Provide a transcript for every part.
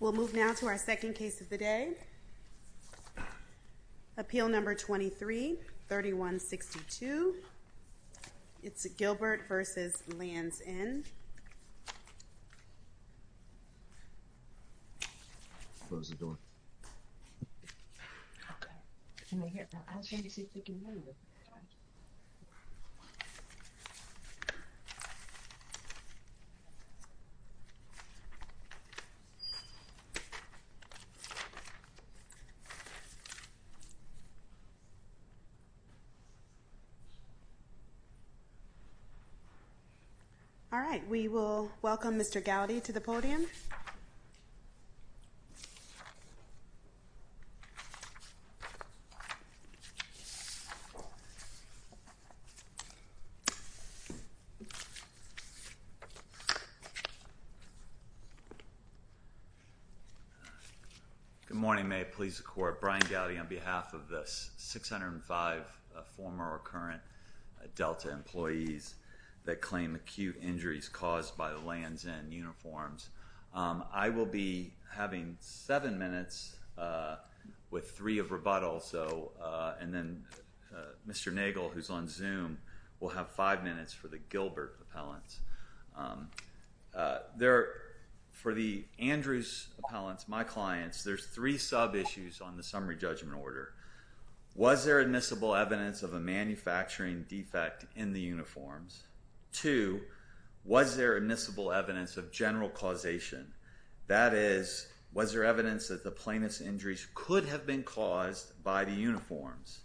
We'll move now to our second case of the day, appeal number 23-3162. It's Gilbert v. Lands' End. All right, we will welcome Mr. Gowdy to the podium. Good morning, may it please the court, Brian Gowdy on behalf of the 605 former or current Delta employees that claim acute injuries caused by Lands' End uniforms. I will be having seven minutes with three of rebuttal, and then Mr. Nagel, who's on Zoom, will have five minutes for the Gilbert appellants. For the Andrews appellants, my clients, there's three sub-issues on the summary judgment order. One, was there admissible evidence of a manufacturing defect in the uniforms? Two, was there admissible evidence of general causation? That is, was there evidence that the plaintiff's injuries could have been caused by the uniforms?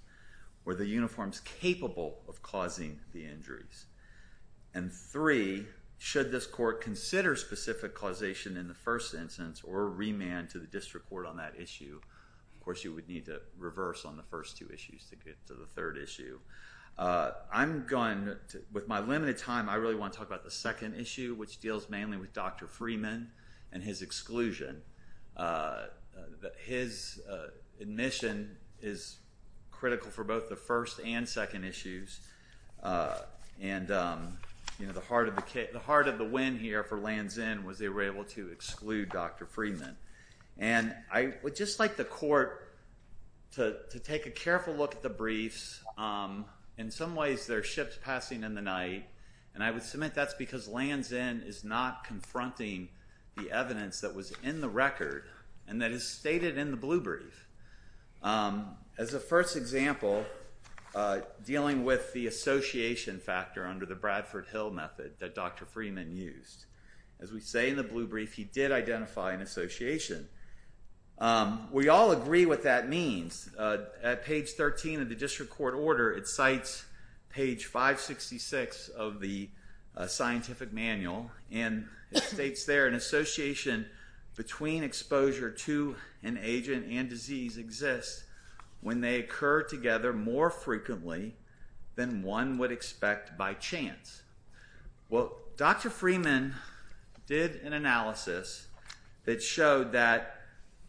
Were the uniforms capable of causing the injuries? And three, should this court consider specific causation in the first instance or remand to the district court on that issue? Of course, you would need to reverse on the first two issues to get to the third issue. With my limited time, I really want to talk about the second issue, which deals mainly with Dr. Freeman and his exclusion. His admission is critical for both the first and second issues, and the heart of the win here for Lansin was they were able to exclude Dr. Freeman. And I would just like the court to take a careful look at the briefs. In some ways, there are ships passing in the night, and I would submit that's because Lansin is not confronting the evidence that was in the record and that is stated in the blue brief. As a first example, dealing with the association factor under the Bradford Hill method that Dr. Freeman used. As we say in the blue brief, he did identify an association. We all agree what that means. At page 13 of the district court order, it cites page 566 of the scientific manual, and it states there, an association between exposure to an agent and disease exists when they occur together more frequently than one would expect by chance. Well, Dr. Freeman did an analysis that showed that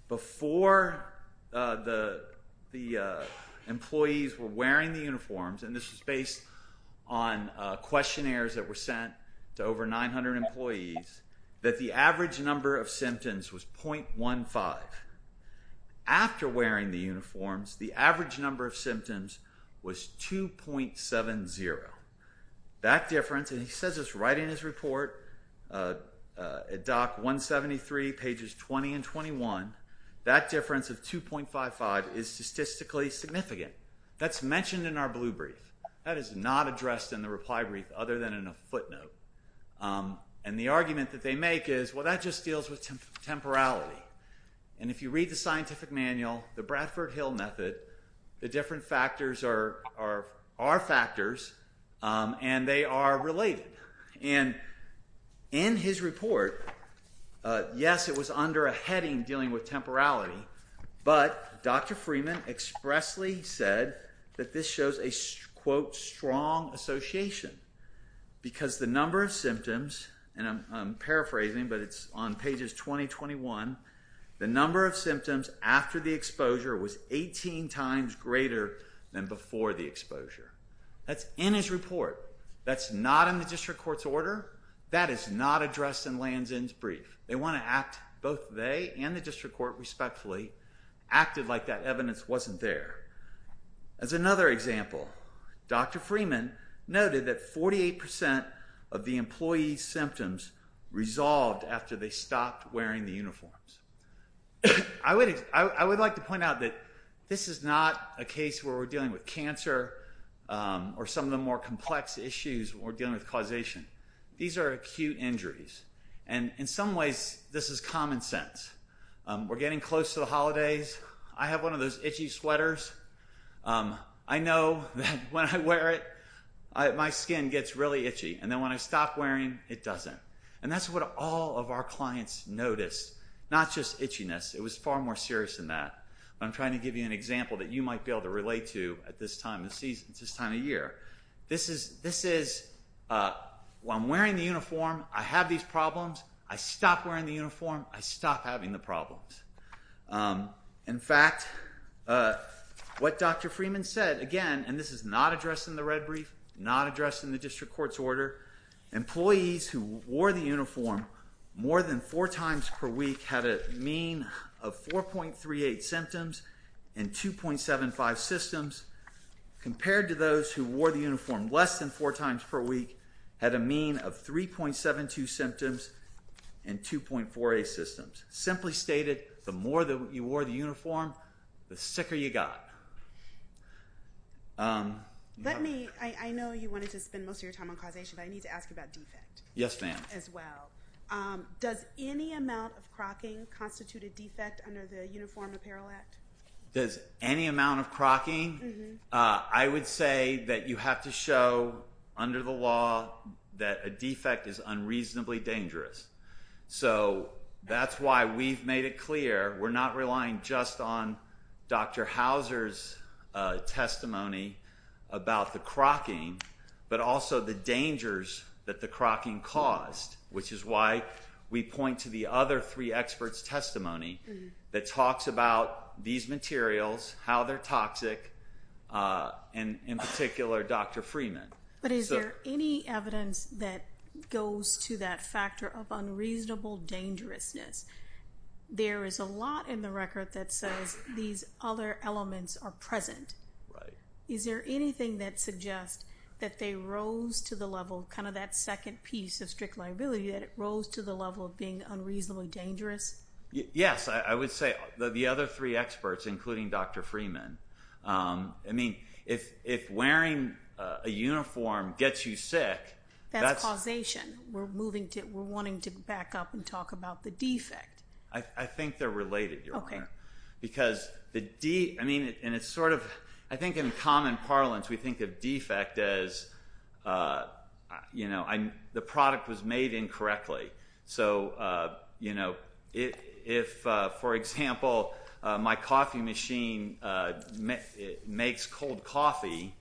before the employees were wearing the uniforms, and this was based on questionnaires that were sent to over 900 employees, that the average number of symptoms was .15. After wearing the uniforms, the average number of symptoms was 2.70. That difference, and he says this right in his report, at doc 173, pages 20 and 21, that difference of 2.55 is statistically significant. That's mentioned in our blue brief. That is not addressed in the reply brief, other than in a footnote, and the argument that they make is, well, that just deals with temporality, and if you read the scientific and they are related, and in his report, yes, it was under a heading dealing with temporality, but Dr. Freeman expressly said that this shows a quote, strong association, because the number of symptoms, and I'm paraphrasing, but it's on pages 20, 21, the number of symptoms after the exposure was 18 times greater than before the exposure. That's in his report. That's not in the district court's order. That is not addressed in Lansin's brief. They want to act, both they and the district court, respectfully, acted like that evidence wasn't there. As another example, Dr. Freeman noted that 48% of the employees' symptoms resolved after they stopped wearing the uniforms. I would like to point out that this is not a case where we're dealing with cancer or some of the more complex issues when we're dealing with causation. These are acute injuries, and in some ways, this is common sense. We're getting close to the holidays. I have one of those itchy sweaters. I know that when I wear it, my skin gets really itchy, and then when I stop wearing, it doesn't, and that's what all of our clients notice, not just itchiness. It was far more serious than that. I'm trying to give you an example that you might be able to relate to at this time of year. This is, when I'm wearing the uniform, I have these problems. I stop wearing the uniform. I stop having the problems. In fact, what Dr. Freeman said, again, and this is not addressed in the red brief, not addressed in the district court's order, employees who wore the uniform more than four times per week had a mean of 4.38 symptoms and 2.75 systems, compared to those who wore the uniform less than four times per week had a mean of 3.72 symptoms and 2.48 systems. Simply stated, the more that you wore the uniform, the sicker you got. Let me, I know you wanted to spend most of your time on causation, but I need to ask you about defect. Yes, ma'am. As well. Does any amount of crocking constitute a defect under the Uniform Apparel Act? Does any amount of crocking? I would say that you have to show under the law that a defect is unreasonably dangerous. So that's why we've made it clear. We're not relying just on Dr. Hauser's testimony about the crocking, but also the dangers that the crocking caused, which is why we point to the other three experts' testimony that talks about these materials, how they're toxic, and in particular, Dr. Freeman. But is there any evidence that goes to that factor of unreasonable dangerousness? There is a lot in the record that says these other elements are present. Is there anything that suggests that they rose to the level, kind of that second piece of strict liability, that it rose to the level of being unreasonably dangerous? Yes, I would say the other three experts, including Dr. Freeman. I mean, if wearing a uniform gets you sick, that's... That's causation. We're moving to... We're wanting to back up and talk about the defect. I think they're related, Your Honor. Because the... I mean, and it's sort of... I think in common parlance, we think of defect as, you know, the product was made incorrectly. So, you know, if, for example, my coffee machine makes cold coffee,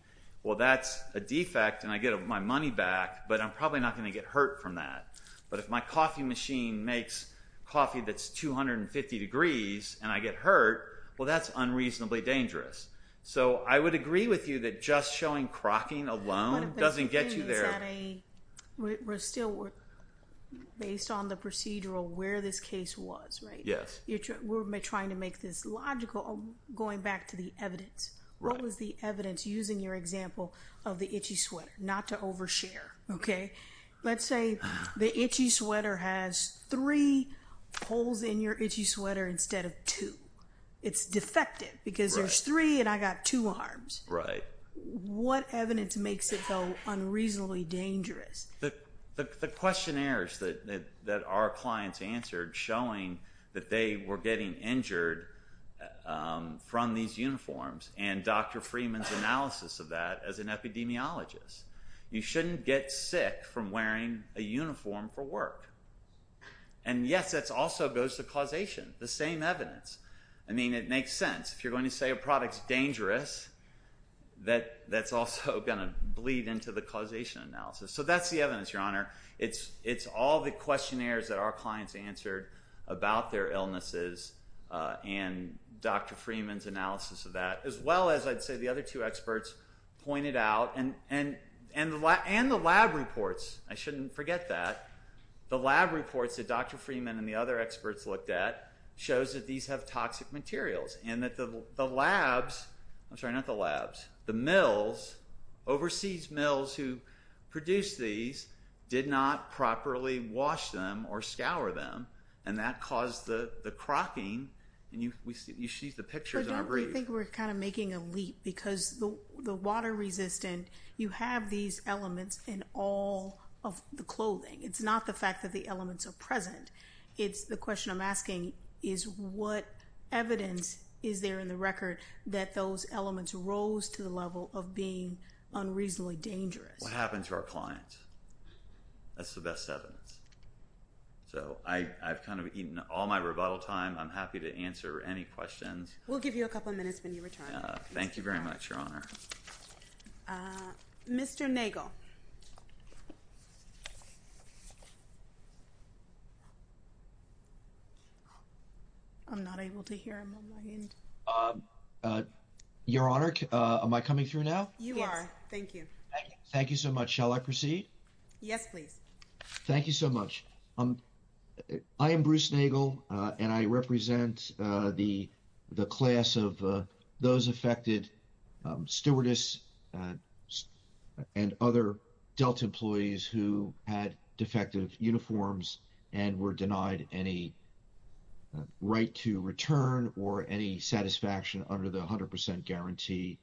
well, that's a defect and I get my money back, but I'm probably not going to get hurt from that. But if my coffee machine makes coffee that's 250 degrees and I get hurt, well, that's unreasonably dangerous. So, I would agree with you that just showing crocking alone doesn't get you there. One of the things that a... We're still... Based on the procedural, where this case was, right? Yes. We're trying to make this logical, going back to the evidence. Right. What was the evidence, using your example of the itchy sweater? Not to overshare, okay? Let's say the itchy sweater has three holes in your itchy sweater instead of two. It's defective because there's three and I got two arms. Right. What evidence makes it, though, unreasonably dangerous? The questionnaires that our clients answered showing that they were getting injured from these uniforms and Dr. Freeman's analysis of that as an epidemiologist. You shouldn't get sick from wearing a uniform for work. And yes, that also goes to causation. The same evidence. I mean, it makes sense. If you're going to say a product's dangerous, that's also going to bleed into the causation analysis. So, that's the evidence, Your Honor. It's all the questionnaires that our clients answered about their illnesses and Dr. Freeman's analysis of that, as well as, I'd say, the other two experts pointed out and the lab reports. I shouldn't forget that. The lab reports that Dr. Freeman and the other experts looked at shows that these have toxic materials and that the labs, I'm sorry, not the labs, the mills, overseas mills who produced these did not properly wash them or scour them and that caused the crocking and you see the pictures on a brief. So, don't you think we're kind of making a leap because the water-resistant, you have these elements in all of the clothing. It's not the fact that the elements are present. It's the question I'm asking is what evidence is there in the record that those elements rose to the level of being unreasonably dangerous? What happened to our clients? That's the best evidence. So, I've kind of eaten all my rebuttal time. I'm happy to answer any questions. We'll give you a couple minutes when you return. Thank you very much, Your Honor. Mr. Nagel. I'm not able to hear him on my end. Your Honor, am I coming through now? You are. Thank you. Thank you so much. Shall I proceed? Yes, please. Thank you so much. I am Bruce Nagel, and I represent the class of those affected, stewardess and other Delta employees who had defective uniforms and were denied any right to return or any satisfaction under the 100 percent guarantee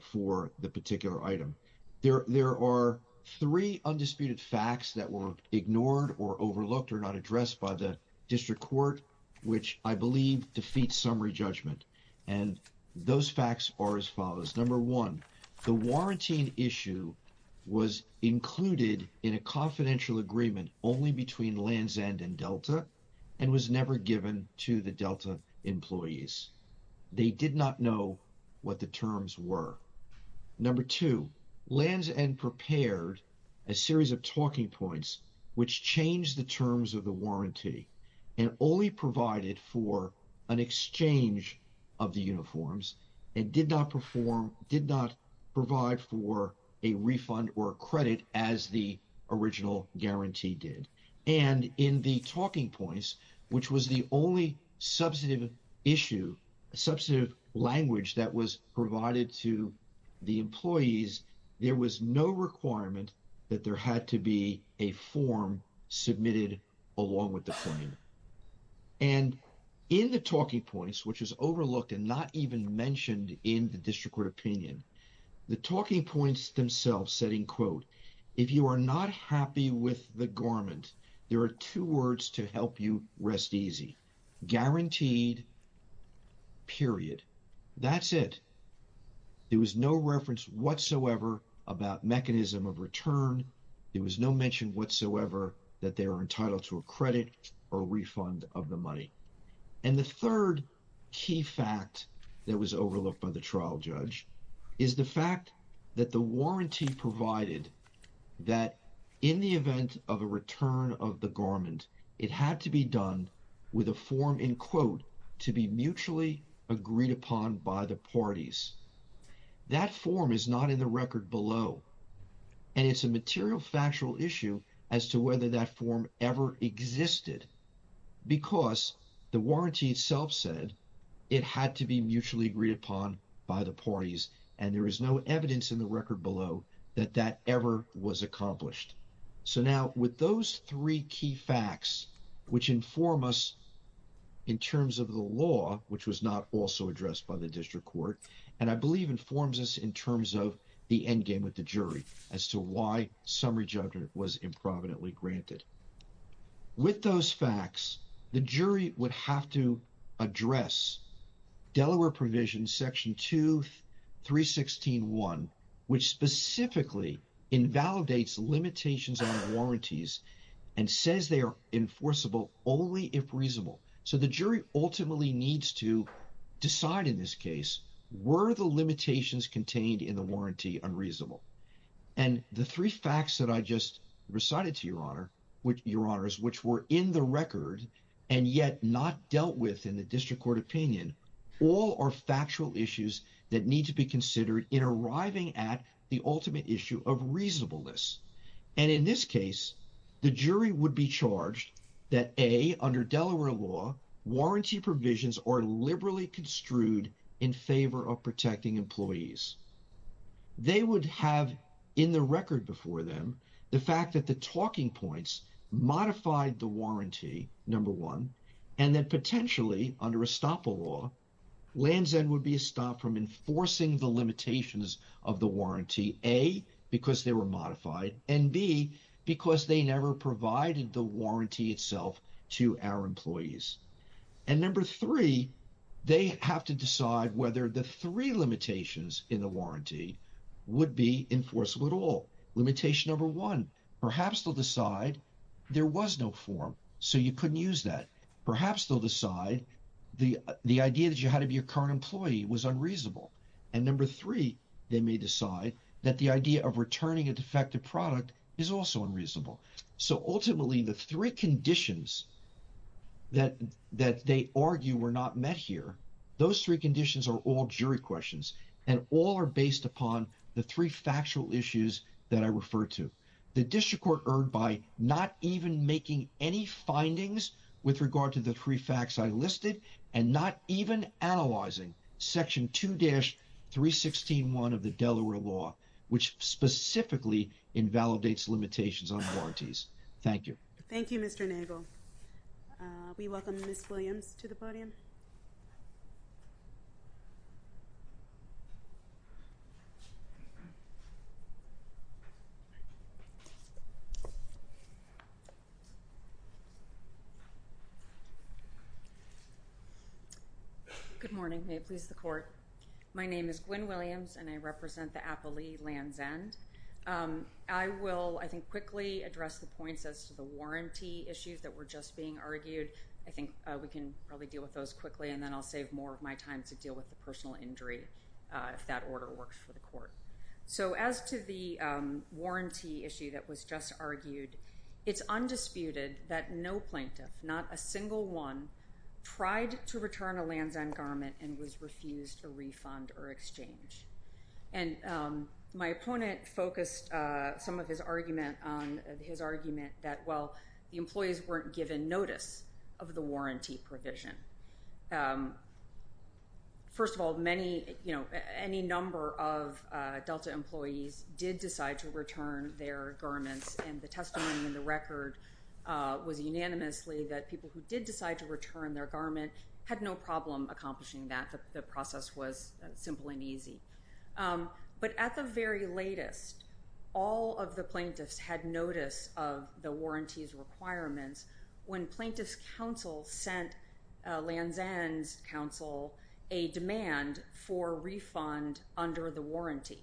for the particular item. There are three undisputed facts that were ignored or overlooked or not addressed by the district court, which I believe defeat summary judgment. And those facts are as follows. Number one, the warranty issue was included in a confidential agreement only between Land's End and Delta and was never given to the Delta employees. They did not know what the terms were. Number two, Land's End prepared a series of talking points which changed the terms of the warranty and only provided for an exchange of the uniforms and did not perform, did not provide for a refund or a credit as the original guarantee did. And in the talking points, which was the only substantive issue, substantive language that was provided to the employees, there was no requirement that there had to be a form submitted along with the claim. And in the talking points, which is overlooked and not even mentioned in the district court opinion, the talking points themselves said, in quote, if you are not happy with the garment, there are two words to help you rest easy, guaranteed, period. That's it. There was no reference whatsoever about mechanism of return. There was no mention whatsoever that they were entitled to a credit or refund of the money. And the third key fact that was overlooked by the trial judge is the fact that the warranty provided that in the event of a return of the garment, it had to be done with a form, in quote, to be mutually agreed upon by the parties. That form is not in the record below. And it's a material factual issue as to whether that form ever existed because the warranty itself said it had to be mutually agreed upon by the parties. And there is no evidence in the record below that that ever was accomplished. So now, with those three key facts, which inform us in terms of the law, which was not also addressed by the district court, and I believe informs us in terms of the endgame with the jury as to why summary judgment was improvidently granted. With those facts, the jury would have to address Delaware provision section 2, 316.1, which specifically invalidates limitations on warranties and says they are enforceable only if reasonable. So the jury ultimately needs to decide in this case, were the limitations contained in the warranty unreasonable? And the three facts that I just recited to your honor, which your honors, which were in the record and yet not dealt with in the district court opinion, all are factual issues that need to be considered in arriving at the ultimate issue of reasonableness. And in this case, the jury would be charged that A, under Delaware law, warranty provisions are liberally construed in favor of protecting employees. They would have in the record before them the fact that the talking points modified the warranty, number one, and that potentially under estoppel law, Land's End would be a form enforcing the limitations of the warranty, A, because they were modified, and B, because they never provided the warranty itself to our employees. And number three, they have to decide whether the three limitations in the warranty would be enforceable at all. Limitation number one, perhaps they'll decide there was no form, so you couldn't use that. Perhaps they'll decide the idea that you had to be a current employee was unreasonable. And number three, they may decide that the idea of returning a defective product is also unreasonable. So ultimately, the three conditions that they argue were not met here, those three conditions are all jury questions and all are based upon the three factual issues that I referred to. The district court erred by not even making any findings with regard to the three facts I listed and not even analyzing section 2-316.1 of the Delaware law, which specifically invalidates limitations on warranties. Thank you. Thank you, Mr. Nagel. We welcome Ms. Williams to the podium. Good morning. May it please the court. My name is Gwen Williams, and I represent the Appalachian Lands End. I will, I think, quickly address the points as to the warranty issues that were just being argued. I think we can probably deal with those quickly, and then I'll save more of my time to deal with the personal injury if that order works for the court. So as to the warranty issue that was just argued, it's undisputed that no plaintiff, not a single one, tried to return a Lands End garment and was refused a refund or exchange. And my opponent focused some of his argument on his argument that, well, the employees weren't given notice of the warranty provision. First of all, many, you know, any number of Delta employees did decide to return their garments, and the testimony in the record was unanimously that people who did decide to return their garment had no problem accomplishing that. The process was simple and easy. But at the very latest, all of the plaintiffs had notice of the warranty's requirements when Plaintiff's Counsel sent Lands End's counsel a demand for a refund under the warranty.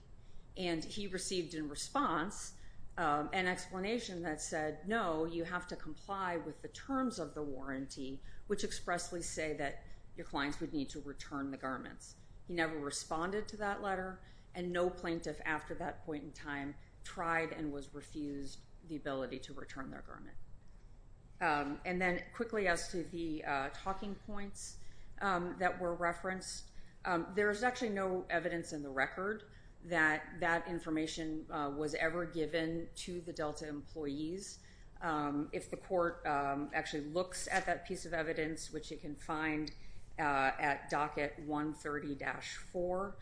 And he received in response an explanation that said, no, you have to comply with the terms of the warranty, which expressly say that your clients would need to return the garments. He never responded to that letter, and no plaintiff after that point in time tried and was refused the ability to return their garment. And then quickly as to the talking points that were referenced, there is actually no evidence in the record that that information was ever given to the Delta employees. If the court actually looks at that piece of evidence, which you can find at docket 130-4,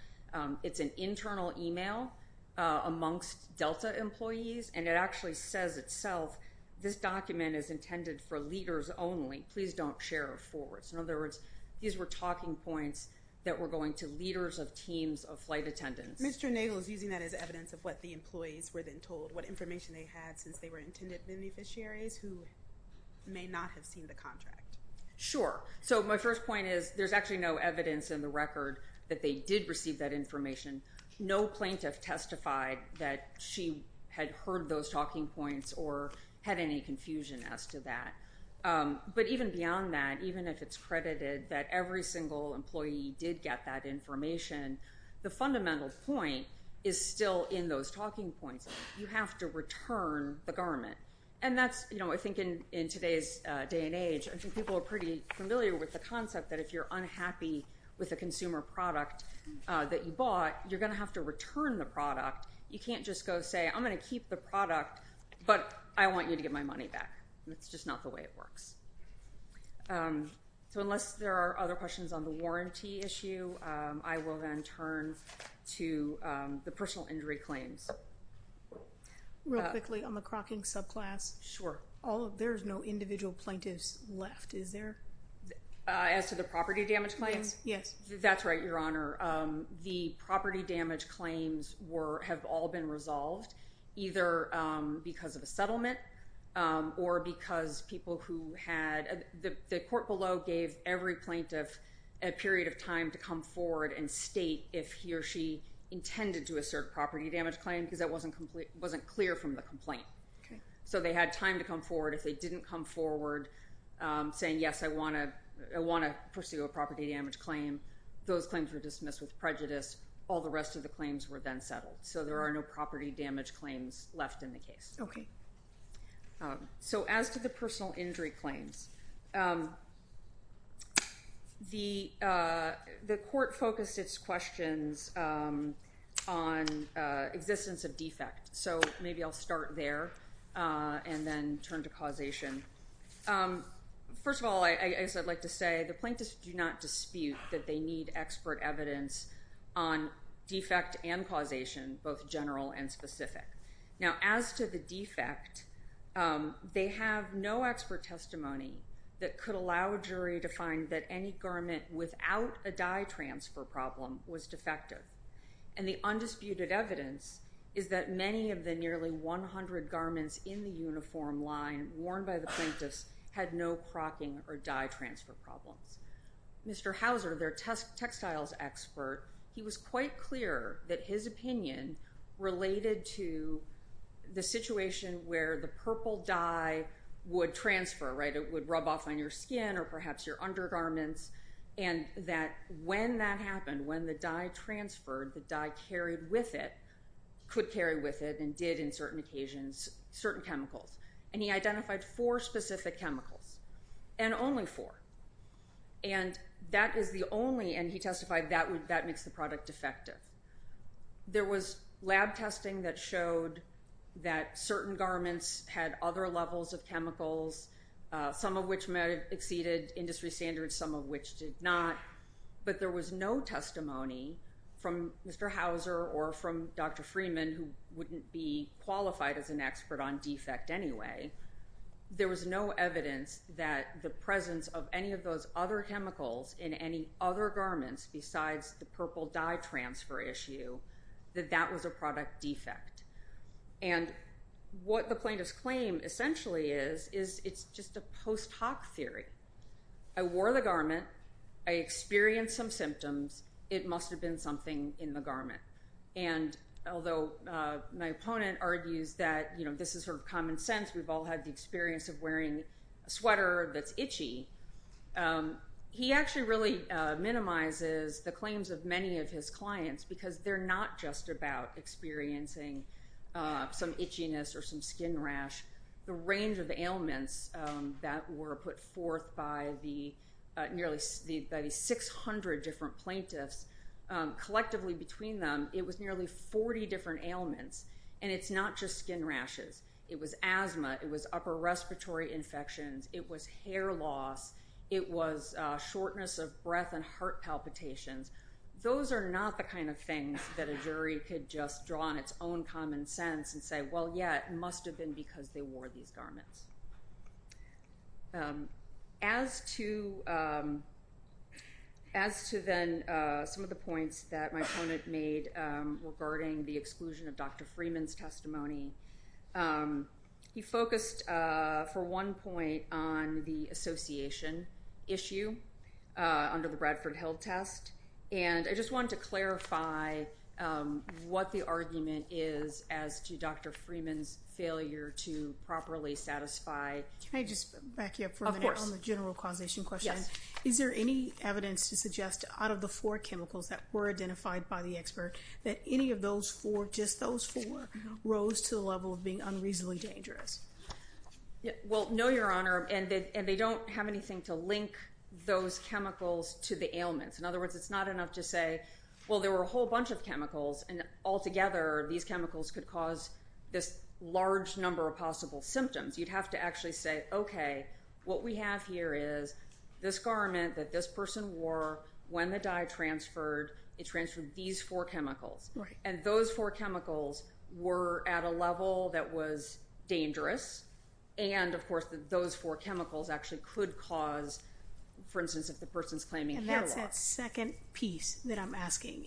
it's an internal email amongst Delta employees, and it actually says itself, this document is intended for leaders only. Please don't share it forward. So in other words, these were talking points that were going to leaders of teams of flight attendants. Mr. Nagle is using that as evidence of what the employees were then told, what information they had since they were intended beneficiaries who may not have seen the contract. Sure. So my first point is there's actually no evidence in the record that they did receive that information. No plaintiff testified that she had heard those talking points or had any confusion as to that. But even beyond that, even if it's credited that every single employee did get that information, the fundamental point is still in those talking points. You have to return the garment. I think in today's day and age, I think people are pretty familiar with the concept that if you're unhappy with a consumer product that you bought, you're going to have to return the product. You can't just go say, I'm going to keep the product, but I want you to get my money back. That's just not the way it works. So unless there are other questions on the warranty issue, I will then turn to the personal injury claims. Real quickly on the crocking subclass. There's no individual plaintiffs left, is there? As to the property damage claims? Yes. That's right, Your Honor. The property damage claims have all been resolved, either because of a settlement or because people who had, the court below gave every plaintiff a period of time to come forward and state if he or she intended to assert a property damage claim because that wasn't clear from the complaint. So they had time to come forward. If they didn't come forward saying, yes, I want to pursue a property damage claim, those claims were dismissed with prejudice. All the rest of the claims were then settled. So there are no property damage claims left in the case. So as to the personal injury claims, the court focused its questions on existence of defect. So maybe I'll start there and then turn to causation. First of all, I guess I'd like to say the plaintiffs do not dispute that they need expert evidence on defect and causation, both general and specific. Now, as to the defect, they have no expert testimony that could allow a jury to find that any garment without a dye transfer problem was defective. And the undisputed evidence is that many of the nearly 100 garments in the uniform line worn by the plaintiffs had no crocking or dye transfer problems. Mr. Hauser, their textiles expert, he was quite clear that his opinion related to the situation where the purple dye would transfer. It would rub off on your skin or perhaps your undergarments, and that when that happened, when the dye transferred, the dye carried with it, could carry with it, and did in certain occasions, certain chemicals. And he identified four specific chemicals, and only four. And that is the only, and he testified, that makes the product defective. There was lab testing that showed that certain garments had other levels of chemicals, some of which exceeded industry standards, some of which did not. But there was no testimony from Mr. Hauser or from Dr. Freeman, who wouldn't be qualified as an expert on defect anyway. There was no evidence that the presence of any of those other chemicals in any other garments besides the purple dye transfer issue, that that was a product defect. And what the plaintiffs claim essentially is, is it's just a post hoc theory. I wore the garment, I experienced some symptoms, it must have been something in the garment. And although my opponent argues that, you know, this is sort of common sense, we've all had the experience of wearing a sweater that's itchy, he actually really minimizes the claims of many of his clients, because they're not just about experiencing some itchiness or some skin rash. The range of ailments that were put forth by the nearly 600 different plaintiffs, collectively between them, it was nearly 40 different ailments. And it's not just skin rashes. It was asthma, it was upper respiratory infections, it was hair loss, it was shortness of breath and heart palpitations. Those are not the kind of things that a jury could just draw on its own common sense and say, well, yeah, it must have been because they wore these garments. As to then some of the points that my opponent made regarding the exclusion of Dr. Freeman's testimony, he focused for one point on the association issue under the Bradford Hill test. And I just wanted to clarify what the argument is as to Dr. Freeman's failure to properly satisfy. Can I just back you up for a minute on the general causation question? Is there any evidence to suggest out of the four chemicals that were identified by the expert, that any of those four, just those four, rose to the level of being unreasonably dangerous? Well, no, Your Honor. And they don't have anything to link those chemicals to the ailments. In other words, it's not enough to say, well, there were a whole bunch of chemicals, and altogether these chemicals could cause this large number of possible symptoms. You'd have to actually say, okay, what we have here is this garment that this person wore, when the dye transferred, it transferred these four chemicals. And those four chemicals were at a level that was dangerous. And, of course, those four chemicals actually could cause, for instance, if the person's claiming hair loss. That second piece that I'm asking,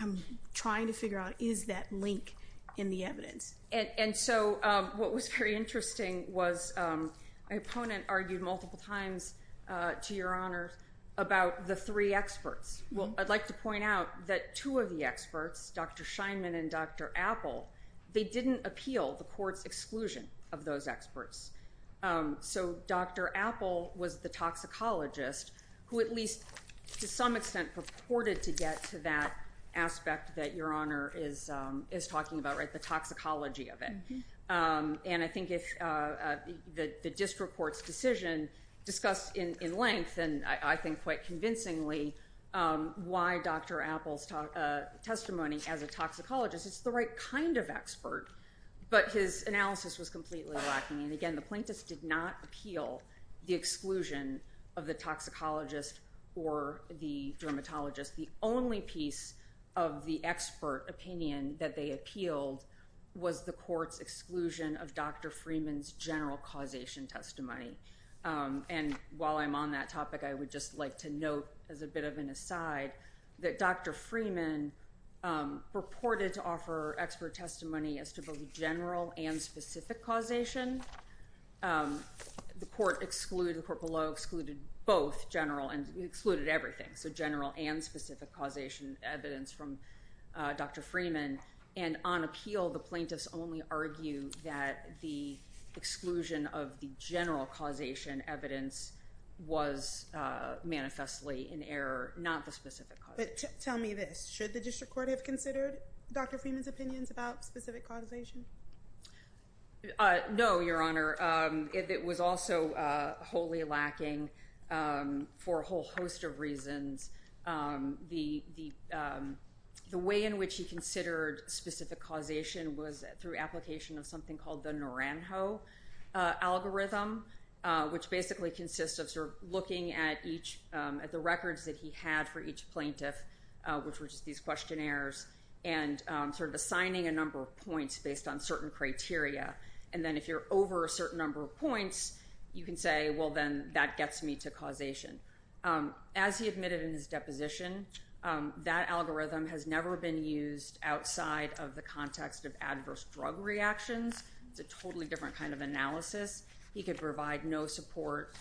I'm trying to figure out, is that link in the evidence? And so what was very interesting was my opponent argued multiple times to Your Honor about the three experts. Well, I'd like to point out that two of the experts, Dr. Scheinman and Dr. Apple, they didn't appeal the court's exclusion of those experts. So Dr. Apple was the toxicologist who, at least to some extent, purported to get to that aspect that Your Honor is talking about, right, the toxicology of it. And I think the district court's decision discussed in length, and I think quite convincingly, why Dr. Apple's testimony as a toxicologist, it's the right kind of expert, but his analysis was completely lacking. And, again, the plaintiffs did not appeal the exclusion of the toxicologist or the dermatologist. The only piece of the expert opinion that they appealed was the court's exclusion of Dr. Freeman's general causation testimony. And while I'm on that topic, I would just like to note, as a bit of an aside, that Dr. Freeman purported to offer expert testimony as to both general and specific causation. The court excluded, the court below excluded both general and excluded everything, so general and specific causation evidence from Dr. Freeman. And on appeal, the plaintiffs only argue that the exclusion of the general causation evidence was manifestly in error, not the specific causation. But tell me this. Should the district court have considered Dr. Freeman's opinions about specific causation? No, Your Honor. It was also wholly lacking for a whole host of reasons. The way in which he considered specific causation was through application of something called the Naranjo algorithm, which basically consists of sort of looking at the records that he had for each plaintiff, which were just these questionnaires, and sort of assigning a number of points based on certain criteria. And then if you're over a certain number of points, you can say, well, then that gets me to causation. As he admitted in his deposition, that algorithm has never been used outside of the context of adverse drug reactions. It's a totally different kind of analysis. He could provide no support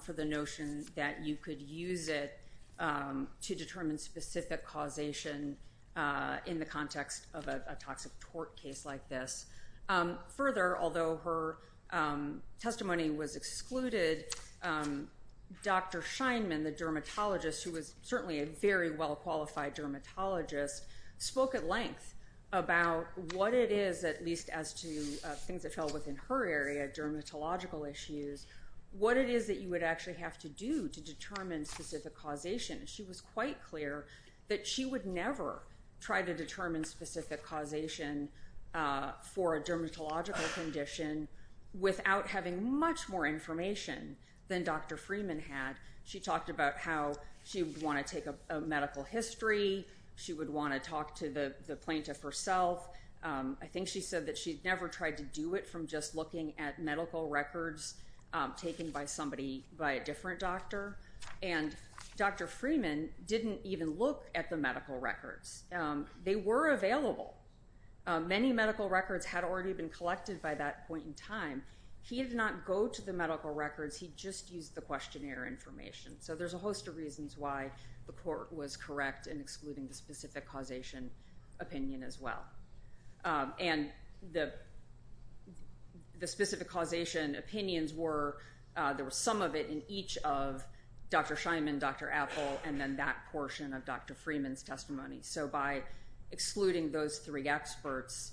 for the notion that you could use it to determine specific causation in the context of a toxic tort case like this. Further, although her testimony was excluded, Dr. Scheinman, the dermatologist, who was certainly a very well-qualified dermatologist, spoke at length about what it is, at least as to things that fell within her area, dermatological issues, what it is that you would actually have to do to determine specific causation. She was quite clear that she would never try to determine specific causation for a dermatological condition without having much more information than Dr. Freeman had. She talked about how she would want to take a medical history. She would want to talk to the plaintiff herself. I think she said that she'd never tried to do it from just looking at medical records taken by somebody, by a different doctor. And Dr. Freeman didn't even look at the medical records. They were available. Many medical records had already been collected by that point in time. He did not go to the medical records. He just used the questionnaire information. So there's a host of reasons why the court was correct in excluding the specific causation opinion as well. And the specific causation opinions were, there was some of it in each of Dr. Scheinman, Dr. Appel, and then that portion of Dr. Freeman's testimony. So by excluding those three experts,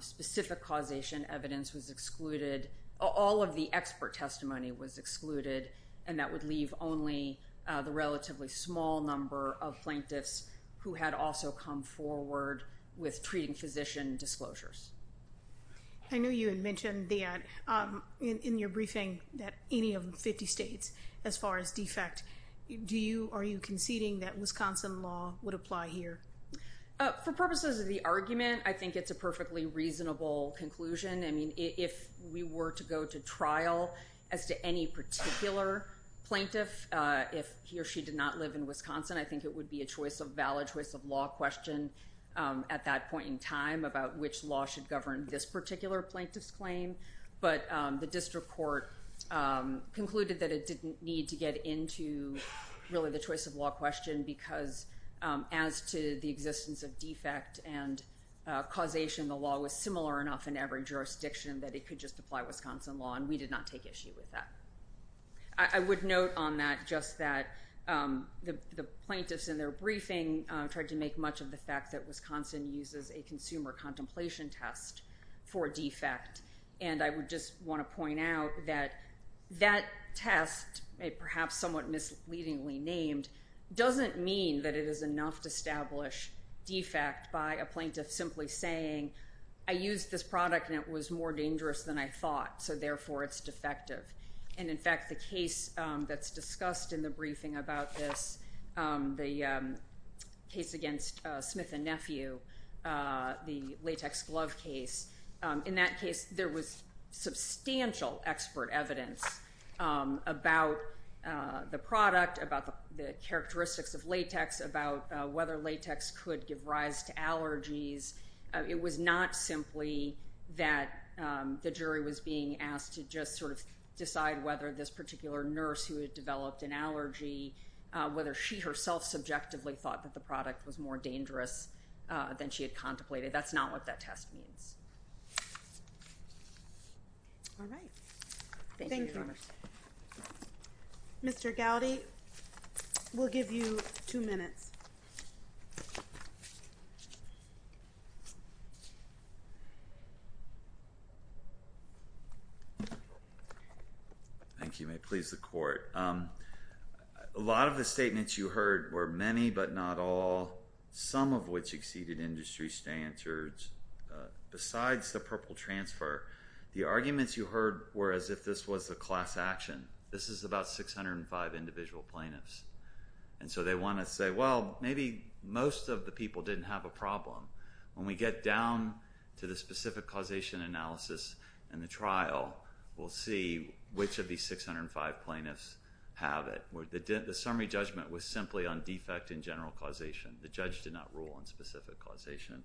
specific causation evidence was excluded. All of the expert testimony was excluded, and that would leave only the relatively small number of plaintiffs who had also come forward with treating physician disclosures. I know you had mentioned that in your briefing that any of the 50 states, as far as defect, are you conceding that Wisconsin law would apply here? For purposes of the argument, I think it's a perfectly reasonable conclusion. I mean, if we were to go to trial as to any particular plaintiff, if he or she did not live in Wisconsin, I think it would be a valid choice of law question at that point in time about which law should govern this particular plaintiff's claim. But the district court concluded that it didn't need to get into really the choice of law question because as to the existence of defect and causation, the law was similar enough in every jurisdiction that it could just apply Wisconsin law, and we did not take issue with that. I would note on that just that the plaintiffs in their briefing tried to make much of the fact that Wisconsin uses a consumer contemplation test for defect, and I would just want to point out that that test, perhaps somewhat misleadingly named, doesn't mean that it is enough to establish defect by a plaintiff simply saying, I used this product and it was more dangerous than I thought, so therefore it's defective. And in fact, the case that's discussed in the briefing about this, the case against Smith and Nephew, the latex glove case, in that case there was substantial expert evidence about the product, about the characteristics of latex, about whether latex could give rise to allergies. It was not simply that the jury was being asked to just sort of decide whether this particular nurse who had developed an allergy, whether she herself subjectively thought that the product was more dangerous than she had contemplated. That's not what that test means. All right. Thank you. Mr. Gowdy, we'll give you two minutes. Thank you. May it please the Court. A lot of the statements you heard were many but not all, some of which exceeded industry standards. Besides the purple transfer, the arguments you heard were as if this was a class action. This is about 605 individual plaintiffs. And so they want to say, well, maybe most of the people didn't have a problem. When we get down to the specific causation analysis and the trial, we'll see which of these 605 plaintiffs have it. The summary judgment was simply on defect in general causation. The judge did not rule on specific causation.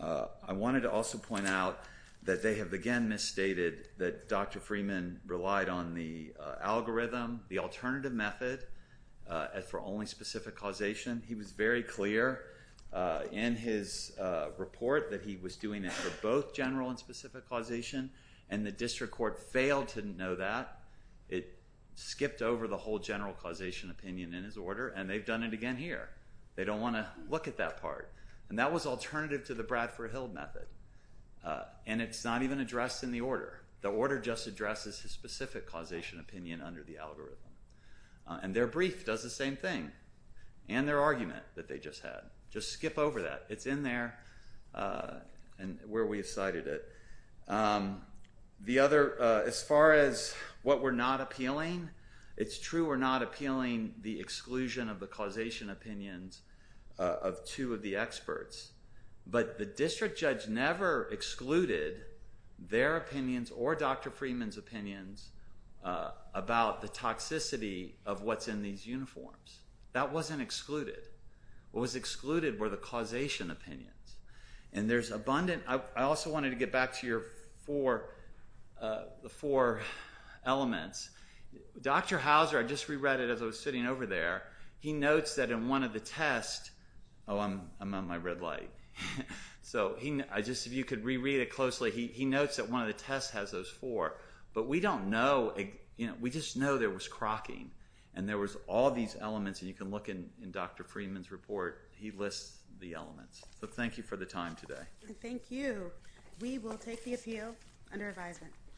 I wanted to also point out that they have again misstated that Dr. Freeman relied on the algorithm, the alternative method, for only specific causation. He was very clear in his report that he was doing it for both general and specific causation. And the district court failed to know that. It skipped over the whole general causation opinion in his order, and they've done it again here. They don't want to look at that part. And that was alternative to the Bradford-Hill method. And it's not even addressed in the order. The order just addresses his specific causation opinion under the algorithm. And their brief does the same thing. And their argument that they just had. Just skip over that. It's in there where we've cited it. The other, as far as what we're not appealing, it's true we're not appealing the exclusion of the causation opinions of two of the experts. But the district judge never excluded their opinions or Dr. Freeman's opinions about the toxicity of what's in these uniforms. That wasn't excluded. What was excluded were the causation opinions. And there's abundant... I also wanted to get back to your four elements. Dr. Hauser, I just reread it as I was sitting over there, he notes that in one of the tests... Oh, I'm on my red light. So if you could reread it closely, he notes that one of the tests has those four. But we don't know. We just know there was crocking. And there was all these elements. And you can look in Dr. Freeman's report. He lists the elements. So thank you for the time today. Thank you. We will take the appeal under advisement.